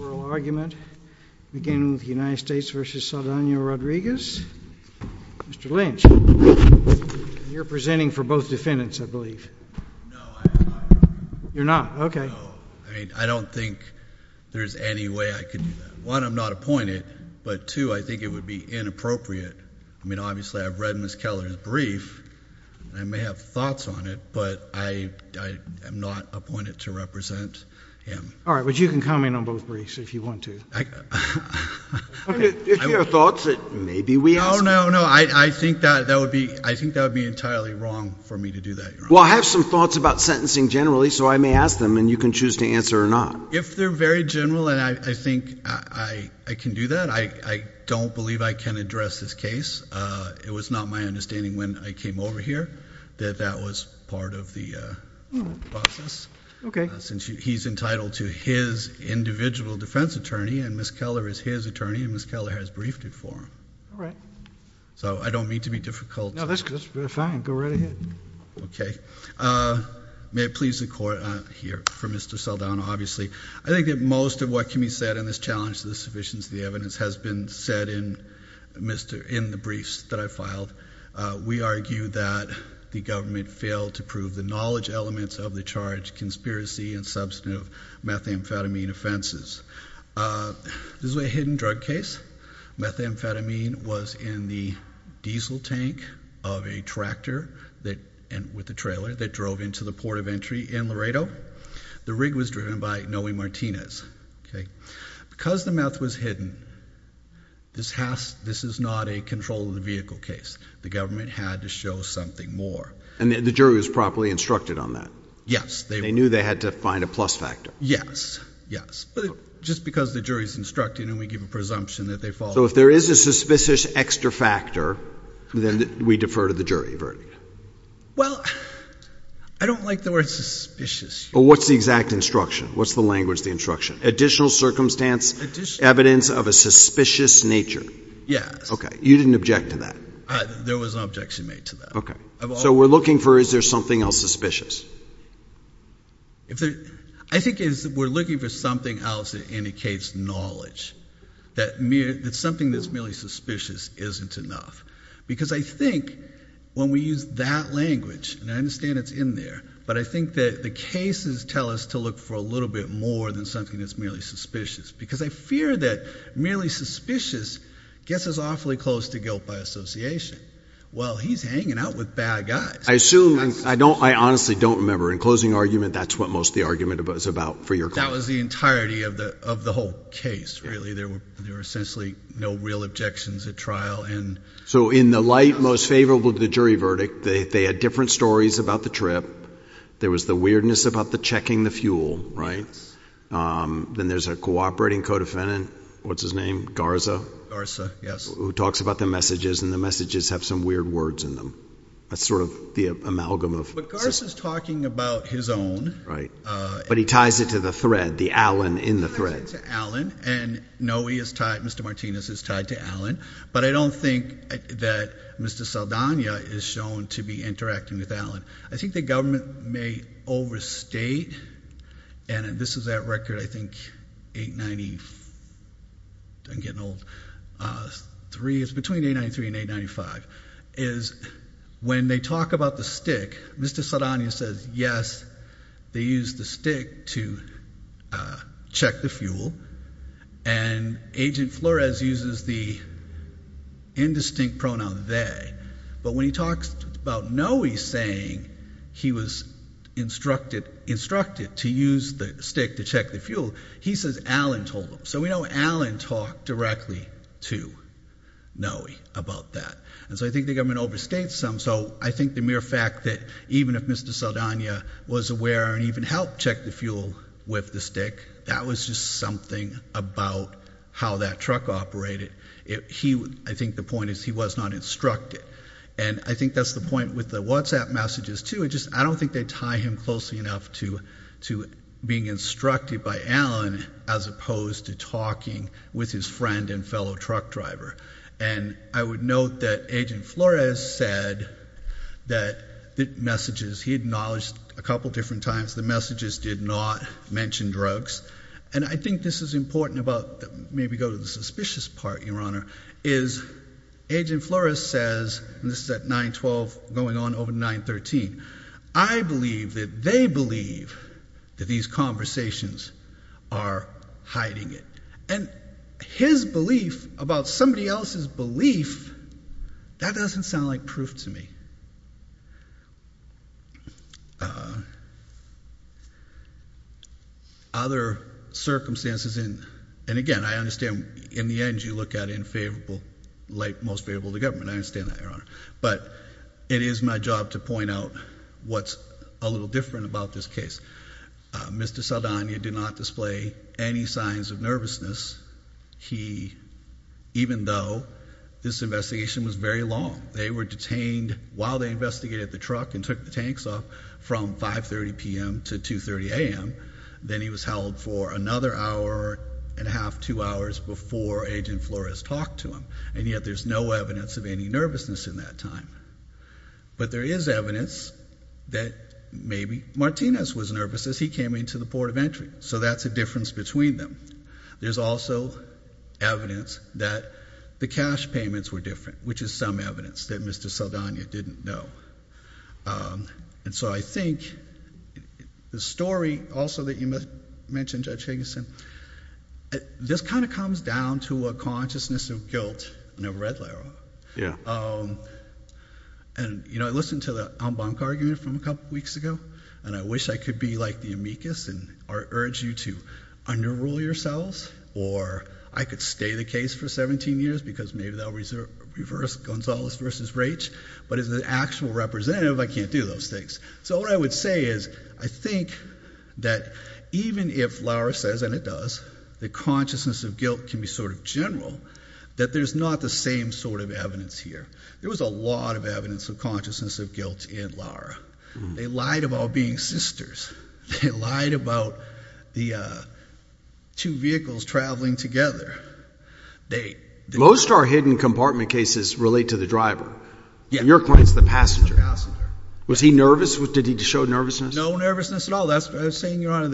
oral argument beginning with the United States v. Saldana Rodriguez. Mr. Lynch, you're presenting for both defendants, I believe. No, I'm not. You're not? Okay. No. I mean, I don't think there's any way I could do that. One, I'm not appointed, but two, I think it would be inappropriate. I mean, obviously, I've read Ms. Keller's brief, and I may have thoughts on it, but I am not appointed to represent him. All right. But you can comment on both briefs if you want to. Okay. If you have thoughts, maybe we ask you. No, no, no. I think that would be entirely wrong for me to do that, Your Honor. Well, I have some thoughts about sentencing generally, so I may ask them, and you can choose to answer or not. If they're very general, and I think I can do that, I don't believe I can address this case. It was not my understanding when I came over here that that was part of the process. Okay. Since he's entitled to his individual defense attorney, and Ms. Keller is his attorney, and Ms. Keller has briefed it for him. All right. So I don't mean to be difficult. No, that's fine. Go right ahead. Okay. May it please the Court, here, for Mr. Saldana, obviously, I think that most of what can be said in this challenge to the sufficiency of the evidence has been said in the briefs that I filed. We argue that the government failed to prove the knowledge elements of the charge, conspiracy, and substantive methamphetamine offenses. This is a hidden drug case. Methamphetamine was in the diesel tank of a tractor with a trailer that drove into the port of entry in Laredo. The rig was driven by Noe Martinez. Because the meth was hidden, this is not a control of the vehicle case. The government had to show something more. And the jury was properly instructed on that. Yes. They knew they had to find a plus factor. Yes, yes. But just because the jury's instructed and we give a presumption that they followed. So if there is a suspicious extra factor, then we defer to the jury verdict. Well, I don't like the word suspicious. Well, what's the exact instruction? What's the language of the instruction? Additional circumstance, evidence of a suspicious nature. Yes. Okay. You didn't object to that. There was no objection made to that. Okay. So we're looking for, is there something else suspicious? I think we're looking for something else that indicates knowledge. That something that's merely suspicious isn't enough. Because I think when we use that language, and I understand it's in there, but I think that the cases tell us to look for a little bit more than something that's merely suspicious. Because I fear that merely suspicious gets us awfully close to guilt by association. Well, he's hanging out with bad guys. I assume, I honestly don't remember. In closing argument, that's what most of the argument was about for your client. That was the entirety of the whole case, really. There were essentially no real objections at trial. So in the light most favorable to the jury verdict, they had different stories about the trip. There was the weirdness about the checking the fuel, right? Then there's a cooperating co-defendant, what's his name, Garza? Garza, yes. Who talks about the messages, and the messages have some weird words in them. That's sort of the amalgam of... But Garza's talking about his own. Right. But he ties it to the thread, the Allen in the thread. He ties it to Allen, and no, he is tied, Mr. Martinez is tied to Allen. But I don't think that Mr. Saldana is shown to be interacting with Allen. I think the government may overstate, and this is that record, I think 893, I'm getting old, it's between 893 and 895, is when they talk about the stick, Mr. Saldana says yes, they used the stick to check the fuel, and Agent Flores uses the indistinct pronoun they. But when he talks about Noe saying he was instructed to use the stick to check the fuel, he says Allen told him. So we know Allen talked directly to Noe about that. And so I think the government overstates some. So I think the mere fact that even if Mr. Saldana was aware and even helped check the fuel with the stick, that was just something about how that truck operated. I think the point is he was not instructed. And I think that's the point with the WhatsApp messages too. I don't think they tie him closely enough to being instructed by Allen, as opposed to talking with his friend and fellow truck driver. And I would note that Agent Flores said that the messages, he acknowledged a couple different times, the messages did not mention drugs. And I think this is important about, maybe go to the suspicious part, Your Honor, is Agent Flores says, and this is at 9-12, going on over 9-13, I believe that they believe that these conversations are hiding it. And his belief about somebody else's belief, that doesn't sound like proof to me. Other circumstances, and again, I understand in the end you look at most favorable to government. I understand that, Your Honor. But it is my job to point out what's a little different about this case. Mr. Saldana did not display any signs of nervousness, even though this investigation was very long. They were detained while they investigated the truck and took the tanks off from 530 p.m. to 230 a.m. Then he was held for another hour and a half, two hours before Agent Flores talked to him. And yet there's no evidence of any nervousness in that time. But there is evidence that maybe Martinez was nervous as he came into the port of entry. So that's a difference between them. There's also evidence that the cash payments were different, which is some evidence that Mr. Saldana didn't know. And so I think the story also that you mentioned, Judge Higginson, this kind of comes down to a consciousness of guilt. I've never read Laro. Yeah. And, you know, I listened to the Ombank argument from a couple weeks ago, and I wish I could be like the amicus and urge you to underrule yourselves. Or I could stay the case for 17 years because maybe they'll reverse Gonzales versus Raich. But as an actual representative, I can't do those things. So what I would say is I think that even if Lara says, and it does, that consciousness of guilt can be sort of general, that there's not the same sort of evidence here. There was a lot of evidence of consciousness of guilt in Lara. They lied about being sisters. They lied about the two vehicles traveling together. Most of our hidden compartment cases relate to the driver. In your point, it's the passenger. Was he nervous? Did he show nervousness? No nervousness at all. That's what I was saying, Your Honor.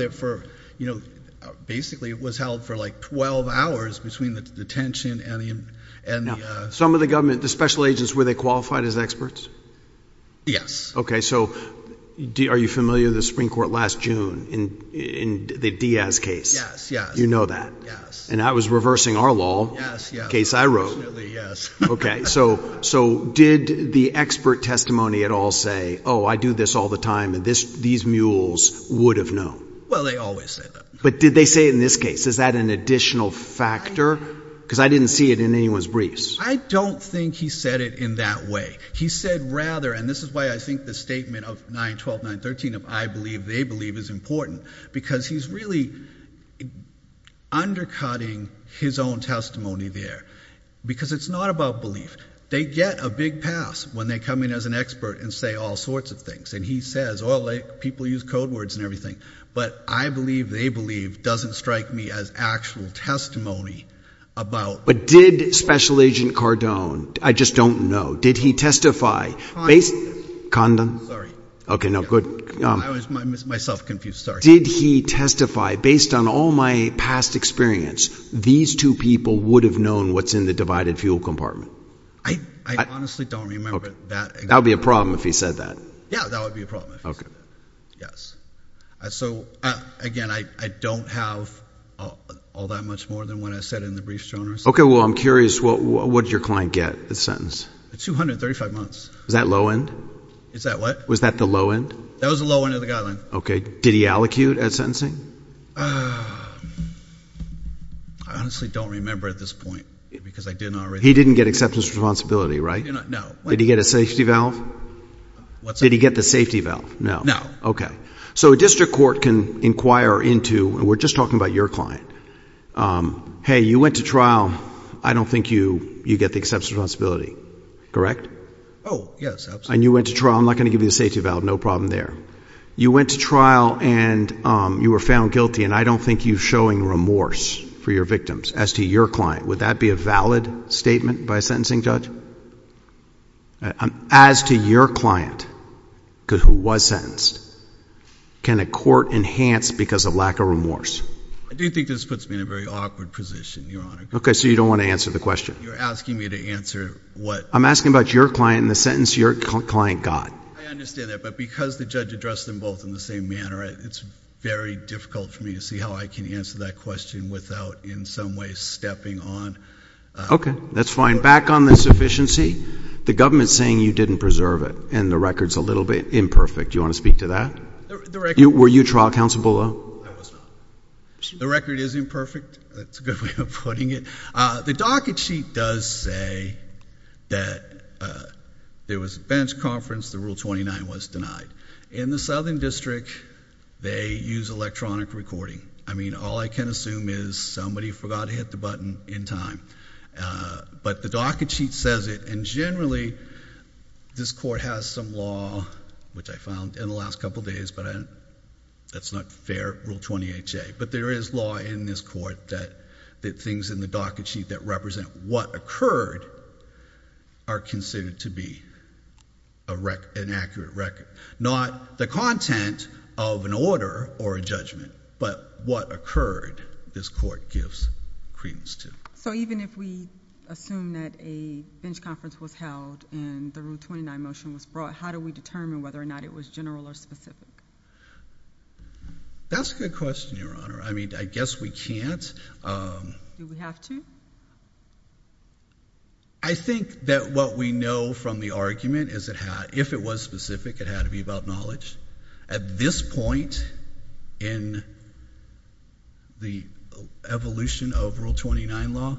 Basically, it was held for like 12 hours between the detention and the... Some of the government, the special agents, were they qualified as experts? Yes. Okay. So are you familiar with the Supreme Court last June in the Diaz case? Yes. You know that? Yes. And that was reversing our law. Yes. Case I wrote. Okay. So did the expert testimony at all say, oh, I do this all the time and these mules would have known? Well, they always say that. But did they say it in this case? Is that an additional factor? Because I didn't see it in anyone's briefs. I don't think he said it in that way. He said rather, and this is why I think the statement of 9-12, 9-13 of I believe, they believe is important. Because he's really undercutting his own testimony there. Because it's not about belief. They get a big pass when they come in as an expert and say all sorts of things. And he says, oh, people use code words and everything. But I believe, they believe doesn't strike me as actual testimony about... But did Special Agent Cardone, I just don't know, did he testify... Condom. Okay. No, good. I was myself confused. Sorry. Did he testify, based on all my past experience, these two people would have known what's in the divided fuel compartment? I honestly don't remember that. That would be a problem if he said that. Yeah, that would be a problem if he said that. Yes. So, again, I don't have all that much more than what I said in the briefs, Jonah. Okay. Well, I'm curious, what did your client get, the sentence? 235 months. Was that low end? Is that what? Was that the low end? That was the low end of the guideline. Okay. Did he allocute at sentencing? I honestly don't remember at this point, because I did not... He didn't get acceptance of responsibility, right? No. Did he get a safety valve? What's that? Did he get the safety valve? No. No. Okay. So, a district court can inquire into... and we're just talking about your client. Hey, you went to trial. I don't think you get the acceptance of responsibility, correct? Oh, yes. Absolutely. And you went to trial. I'm not going to give you the safety valve. No problem there. You went to trial and you were found guilty, and I don't think you're showing remorse for your victims. As to your client, would that be a valid statement by a sentencing judge? As to your client, who was sentenced, can a court enhance because of lack of remorse? I do think this puts me in a very awkward position, Your Honor. Okay. So, you don't want to answer the question? You're asking me to answer what... I'm asking about your client and the sentence your client got. I understand that, but because the judge addressed them both in the same manner, it's very difficult for me to see how I can answer that question without in some way stepping on... Okay. That's fine. Back on the sufficiency, the government's saying you didn't preserve it, and the record's a little bit imperfect. Do you want to speak to that? The record... Were you trial counsel below? No, I was not. The record is imperfect. That's a good way of putting it. The docket sheet does say that there was a bench conference, the Rule 29 was denied. In the Southern District, they use electronic recording. I mean, all I can assume is somebody forgot to hit the button in time, but the docket sheet says it. And generally, this Court has some law, which I found in the last couple days, but that's not fair, Rule 28J. But there is law in this Court that things in the docket sheet that represent what occurred are considered to be an accurate record. Not the content of an order or a judgment, but what occurred, this Court gives credence to. So even if we assume that a bench conference was held and the Rule 29 motion was brought, how do we determine whether or not it was general or specific? That's a good question, Your Honor. I mean, I guess we can't. Do we have to? I think that what we know from the argument is if it was specific, it had to be about knowledge. At this point in the evolution of Rule 29 law,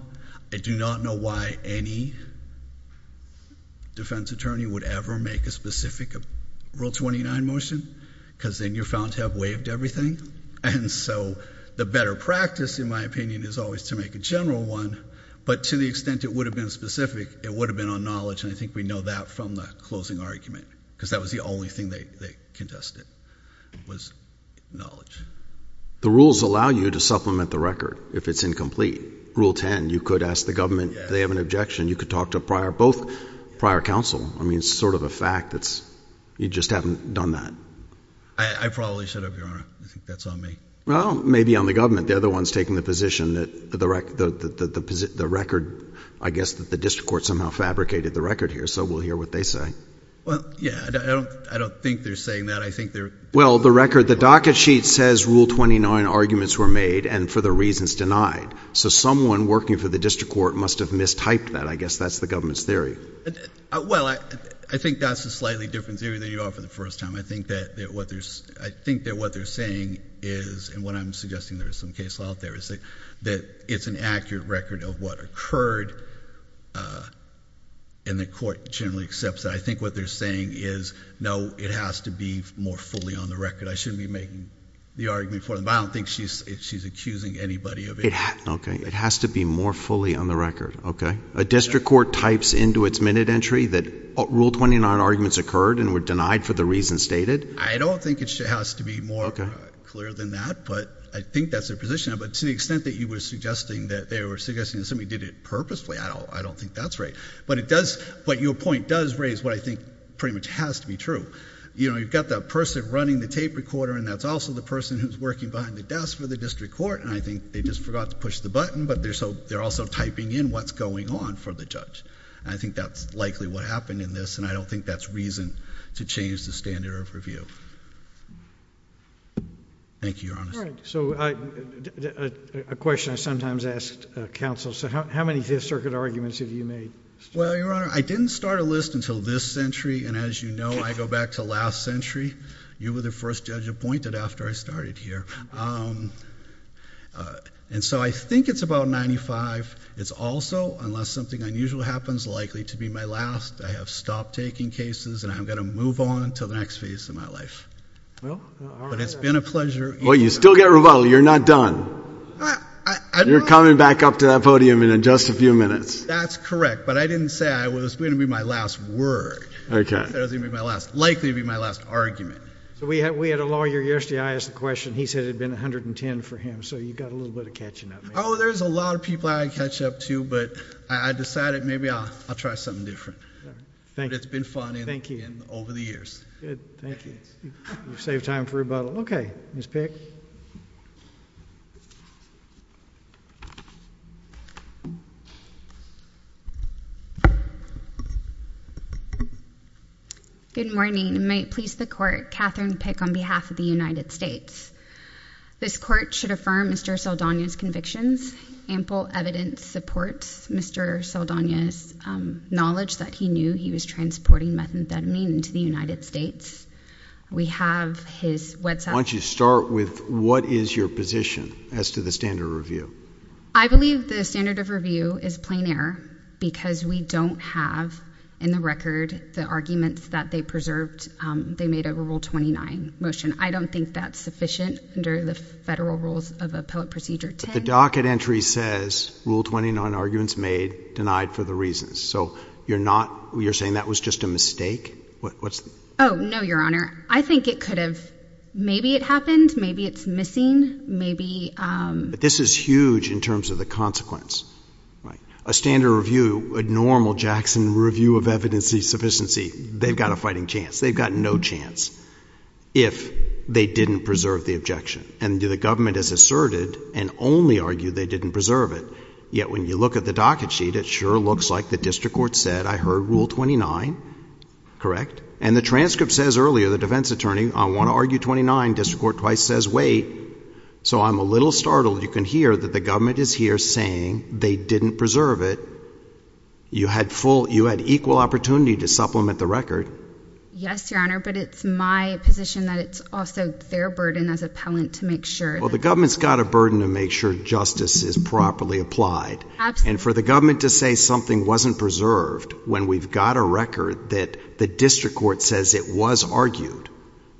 I do not know why any defense attorney would ever make a specific Rule 29 motion, because then you're found to have waived everything. And so the better practice, in my opinion, is always to make a general one, but to the extent it would have been specific, it would have been on knowledge, and I think we know that from the closing argument, because that was the only thing they contested was knowledge. The rules allow you to supplement the record if it's incomplete. Rule 10, you could ask the government if they have an objection. You could talk to both prior counsel. I mean, it's sort of a fact that you just haven't done that. I probably should have, Your Honor. I think that's on me. Well, maybe on the government. They're the ones taking the position that the record, I guess that the district court somehow fabricated the record here, so we'll hear what they say. Well, yeah, I don't think they're saying that. Well, the record, the docket sheet says Rule 29 arguments were made and for the reasons denied. So someone working for the district court must have mistyped that. I guess that's the government's theory. Well, I think that's a slightly different theory than you are for the first time. I think that what they're saying is, and what I'm suggesting there is some case law out there, is that it's an accurate record of what occurred, and the court generally accepts that. I think what they're saying is, no, it has to be more fully on the record. I shouldn't be making the argument for them, but I don't think she's accusing anybody of it. Okay, it has to be more fully on the record, okay? A district court types into its minute entry that Rule 29 arguments occurred and were denied for the reasons stated? I don't think it has to be more clear than that, but I think that's their position. But to the extent that you were suggesting that they were suggesting somebody did it purposefully, I don't think that's right. But your point does raise what I think pretty much has to be true. You've got that person running the tape recorder, and that's also the person who's working behind the desk for the district court, and I think they just forgot to push the button, but they're also typing in what's going on for the judge. I think that's likely what happened in this, and I don't think that's reason to change the standard of review. Thank you, Your Honor. All right, so a question I sometimes ask counsel, so how many Fifth Circuit arguments have you made? Well, Your Honor, I didn't start a list until this century, and as you know, I go back to last century. You were the first judge appointed after I started here. And so I think it's about 95. It's also, unless something unusual happens, likely to be my last. I have stopped taking cases, and I'm going to move on to the next phase of my life. But it's been a pleasure. Well, you still get rebuttal. You're not done. You're coming back up to that podium in just a few minutes. That's correct, but I didn't say it was going to be my last word. I said it was going to be my last, likely to be my last argument. So we had a lawyer yesterday. I asked a question. He said it had been 110 for him, so you've got a little bit of catching up. Oh, there's a lot of people I can catch up to, but I decided maybe I'll try something different. Thank you. But it's been fun over the years. Good. Thank you. You've saved time for rebuttal. Okay, Ms. Pick. Good morning. May it please the court, Katherine Pick on behalf of the United States. This court should affirm Mr. Saldana's convictions. Ample evidence supports Mr. Saldana's knowledge that he knew he was transporting methamphetamine into the United States. We have his website. Why don't you start with what is your position as to the standard of review? I believe the standard of review is plain error because we don't have in the record the arguments that they preserved. They made a Rule 29 motion. I don't think that's sufficient under the federal rules of appellate procedure 10. But the docket entry says Rule 29 arguments made, denied for the reasons. So you're saying that was just a mistake? Oh, no, Your Honor. I think it could have. Maybe it happened. Maybe it's missing. Maybe. But this is huge in terms of the consequence. A standard review, a normal Jackson review of evidence of sufficiency, they've got a fighting chance. They've got no chance if they didn't preserve the objection. And the government has asserted and only argued they didn't preserve it. Yet when you look at the docket sheet, it sure looks like the district court said, I heard Rule 29. Correct? And the transcript says earlier, the defense attorney, I want to argue 29. District court twice says, wait. So I'm a little startled you can hear that the government is here saying they didn't preserve it. You had equal opportunity to supplement the record. Yes, Your Honor, but it's my position that it's also their burden as appellant to make sure. Well, the government's got a burden to make sure justice is properly applied. And for the government to say something wasn't preserved when we've got a record that the district court says it was argued,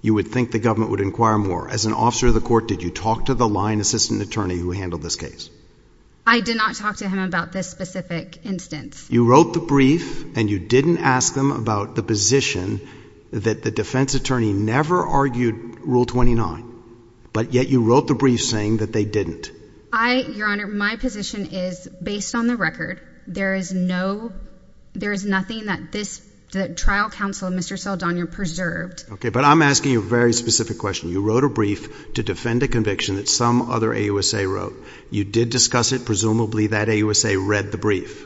you would think the government would inquire more. As an officer of the court, did you talk to the line assistant attorney who handled this case? I did not talk to him about this specific instance. You wrote the brief and you didn't ask them about the position that the defense attorney never argued Rule 29. But yet you wrote the brief saying that they didn't. I, Your Honor, my position is based on the record. There is no, there is nothing that this trial counsel, Mr. Saldana, preserved. Okay, but I'm asking you a very specific question. You wrote a brief to defend a conviction that some other AUSA wrote. You did discuss it. Presumably that AUSA read the brief.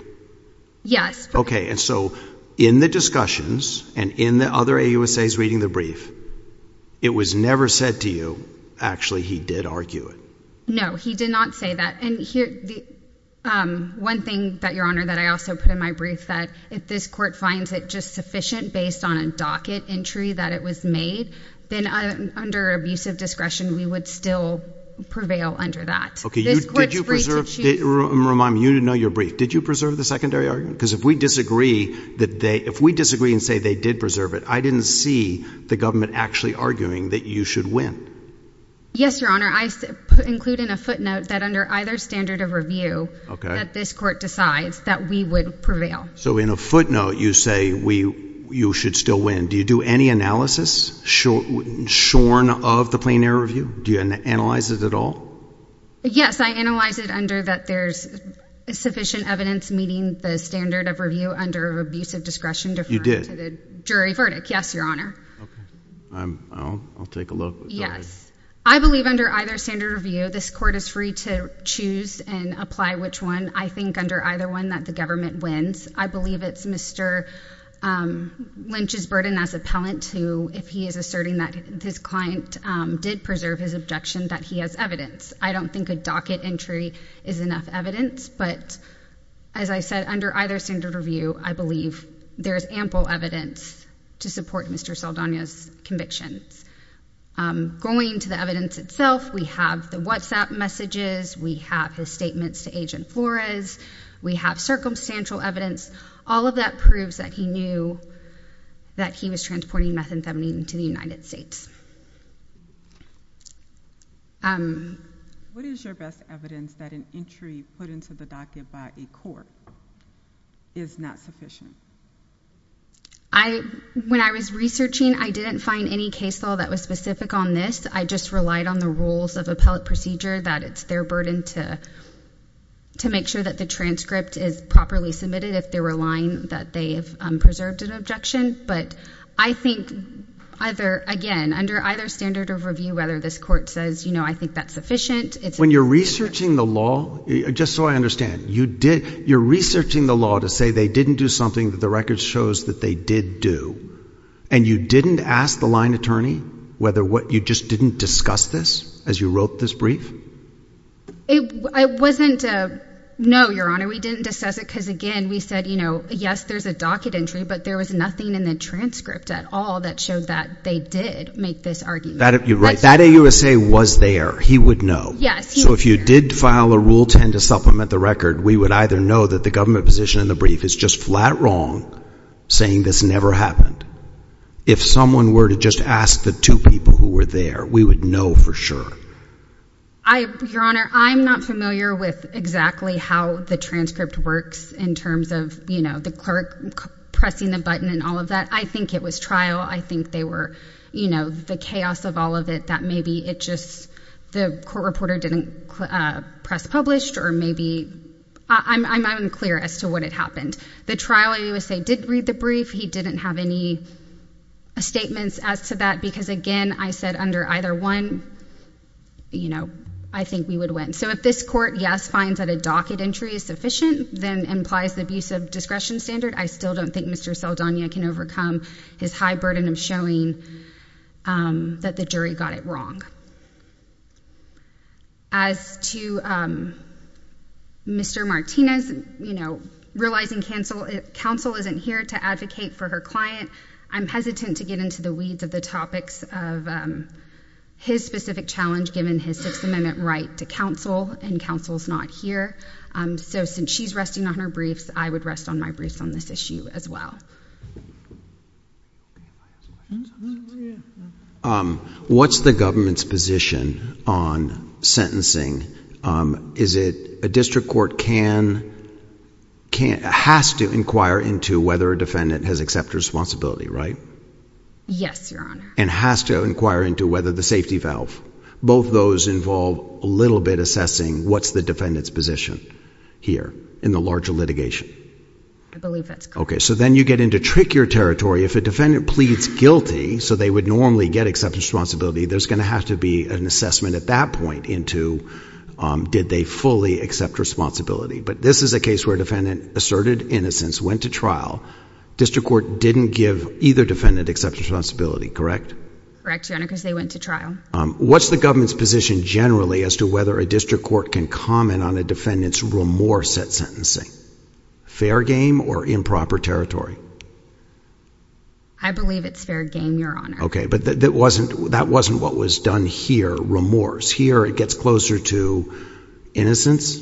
Yes. Okay, and so in the discussions and in the other AUSAs reading the brief, it was never said to you, actually, he did argue it. No, he did not say that. One thing that, Your Honor, that I also put in my brief that if this court finds it just sufficient based on a docket entry that it was made, then under abusive discretion we would still prevail under that. Okay, did you preserve, remind me, you didn't know your brief. Did you preserve the secondary argument? Because if we disagree and say they did preserve it, I didn't see the government actually arguing that you should win. Yes, Your Honor. I include in a footnote that under either standard of review that this court decides that we would prevail. So in a footnote you say you should still win. Do you do any analysis shorn of the plain error review? Do you analyze it at all? Yes, I analyze it under that there's sufficient evidence meeting the standard of review under abusive discretion deferred to the jury verdict. Yes, Your Honor. Okay. I'll take a look. Yes. I believe under either standard of review this court is free to choose and apply which one. I think under either one that the government wins. I believe it's Mr. Lynch's burden as appellant who, if he is asserting that his client did preserve his objection, that he has evidence. I don't think a docket entry is enough evidence. But as I said, under either standard of review, I believe there is ample evidence to support Mr. Saldana's convictions. Going to the evidence itself, we have the WhatsApp messages. We have his statements to Agent Flores. We have circumstantial evidence. All of that proves that he knew that he was transporting methamphetamine to the United States. What is your best evidence that an entry put into the docket by a court is not sufficient? When I was researching, I didn't find any case law that was specific on this. I just relied on the rules of appellate procedure that it's their burden to make sure that the transcript is properly submitted if they're relying that they have preserved an objection. But I think, again, under either standard of review, whether this court says, you know, I think that's sufficient. When you're researching the law, just so I understand, you're researching the law to say they didn't do something that the record shows that they did do. And you didn't ask the line attorney whether what you just didn't discuss this as you wrote this brief? It wasn't a no, Your Honor. We didn't discuss it because, again, we said, you know, yes, there's a docket entry, but there was nothing in the transcript at all that showed that they did make this argument. You're right. That AUSA was there. He would know. Yes. So if you did file a Rule 10 to supplement the record, we would either know that the government position in the brief is just flat wrong saying this never happened. If someone were to just ask the two people who were there, we would know for sure. Your Honor, I'm not familiar with exactly how the transcript works in terms of, you know, the clerk pressing the button and all of that. I think it was trial. I think they were, you know, the chaos of all of it that maybe it just the court reporter didn't press published or maybe I'm unclear as to what had happened. The trial, AUSA did read the brief. He didn't have any statements as to that because, again, I said under either one, you know, I think we would win. So if this court, yes, finds that a docket entry is sufficient, then implies the abuse of discretion standard. I still don't think Mr. Saldana can overcome his high burden of showing that the jury got it wrong. As to Mr. Martinez, you know, realizing counsel isn't here to advocate for her client, I'm hesitant to get into the weeds of the topics of his specific challenge given his Sixth Amendment right to counsel and counsel's not here. So since she's resting on her briefs, I would rest on my briefs on this issue as well. What's the government's position on sentencing? Is it a district court can, has to inquire into whether a defendant has accepted responsibility, right? Yes, Your Honor. And has to inquire into whether the safety valve, both those involve a little bit assessing what's the defendant's position here in the larger litigation? I believe that's correct. Okay, so then you get into trickier territory. If a defendant pleads guilty, so they would normally get acceptance responsibility, there's going to have to be an assessment at that point into did they fully accept responsibility. But this is a case where a defendant asserted innocence, went to trial. District court didn't give either defendant acceptance responsibility, correct? Correct, Your Honor, because they went to trial. What's the government's position generally as to whether a district court can comment on a defendant's remorse at sentencing? Fair game or improper territory? I believe it's fair game, Your Honor. Okay, but that wasn't what was done here, remorse. Here it gets closer to innocence.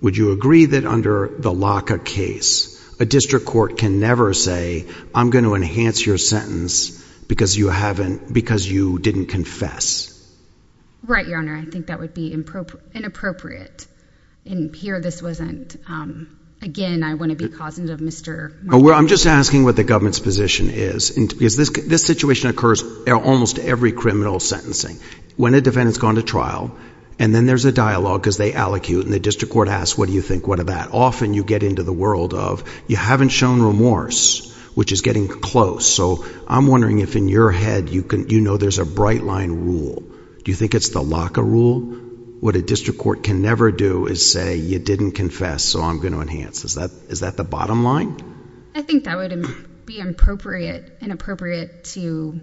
Would you agree that under the LACA case, a district court can never say, I'm going to enhance your sentence because you didn't confess? Right, Your Honor. I think that would be inappropriate. And here this wasn't, again, I want to be cognizant of Mr. Martin. I'm just asking what the government's position is. This situation occurs in almost every criminal sentencing. When a defendant's gone to trial, and then there's a dialogue because they allocute, and the district court asks, what do you think, what of that? Often you get into the world of you haven't shown remorse, which is getting close. So I'm wondering if in your head you know there's a bright line rule. Do you think it's the LACA rule? What a district court can never do is say, you didn't confess, so I'm going to enhance. Is that the bottom line? I think that would be inappropriate to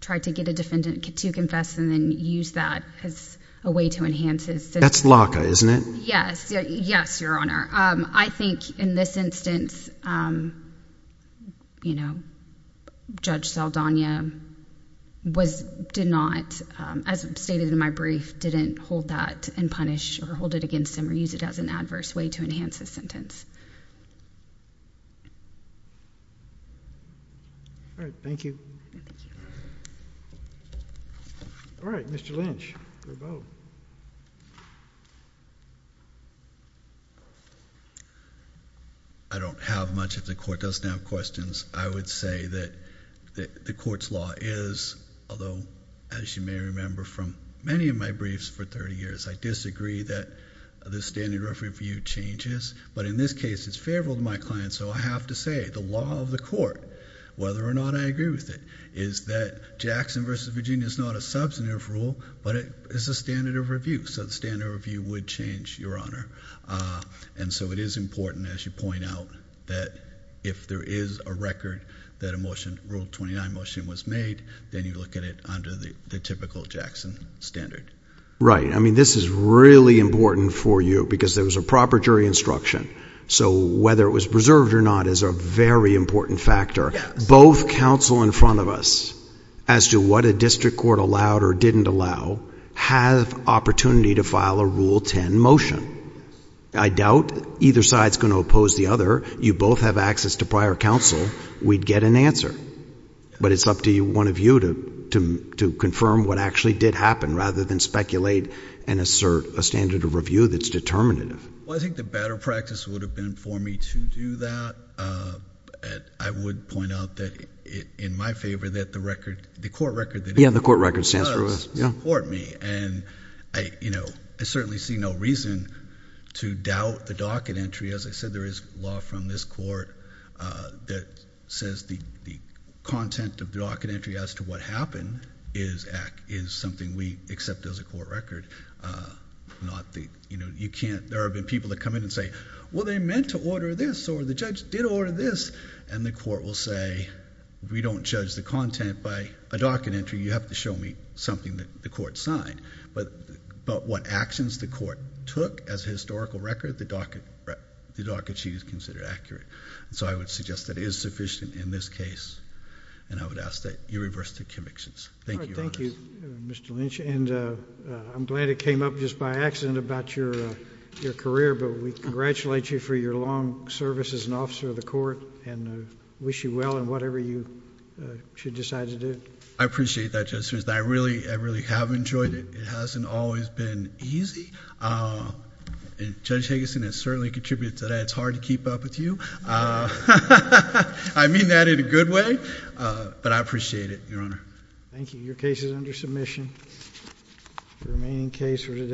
try to get a defendant to confess and then use that as a way to enhance his sentence. That's LACA, isn't it? Yes, Your Honor. I think in this instance, you know, Judge Saldana did not, as stated in my brief, didn't hold that and punish or hold it against him or use it as an adverse way to enhance his sentence. All right. Thank you. All right. Mr. Lynch, your vote. I don't have much. If the court doesn't have questions, I would say that the court's law is, although as you may remember from many of my briefs for 30 years, I disagree that the standard rough review changes, but in this case, it's favorable to my client, and so I have to say the law of the court, whether or not I agree with it, is that Jackson v. Virginia is not a substantive rule, but it is a standard of review, so the standard of review would change, Your Honor. And so it is important, as you point out, that if there is a record that a Rule 29 motion was made, then you look at it under the typical Jackson standard. Right. I mean, this is really important for you because there was a proper jury instruction. So whether it was preserved or not is a very important factor. Both counsel in front of us, as to what a district court allowed or didn't allow, have opportunity to file a Rule 10 motion. I doubt either side is going to oppose the other. You both have access to prior counsel. We'd get an answer. But it's up to one of you to confirm what actually did happen rather than speculate and assert a standard of review that's determinative. Well, I think the better practice would have been for me to do that. I would point out that, in my favor, that the record, the court record. Yeah, the court record stands for rules. And, you know, I certainly see no reason to doubt the docket entry. As I said, there is law from this court that says the content of the docket entry as to what happened is something we accept as a court record. There have been people that come in and say, well, they meant to order this, or the judge did order this. And the court will say, we don't judge the content by a docket entry. You have to show me something that the court signed. But what actions the court took as a historical record, the docket sheet is considered accurate. So I would suggest that it is sufficient in this case. And I would ask that you reverse the convictions. Thank you, Your Honor. Thank you, Mr. Lynch. And I'm glad it came up just by accident about your career. But we congratulate you for your long service as an officer of the court and wish you well in whatever you should decide to do. I appreciate that, Judge Smith. I really have enjoyed it. It hasn't always been easy. Judge Higginson has certainly contributed to that. It's hard to keep up with you. I mean that in a good way. But I appreciate it, Your Honor. Thank you. Your case is under submission. The remaining case for today.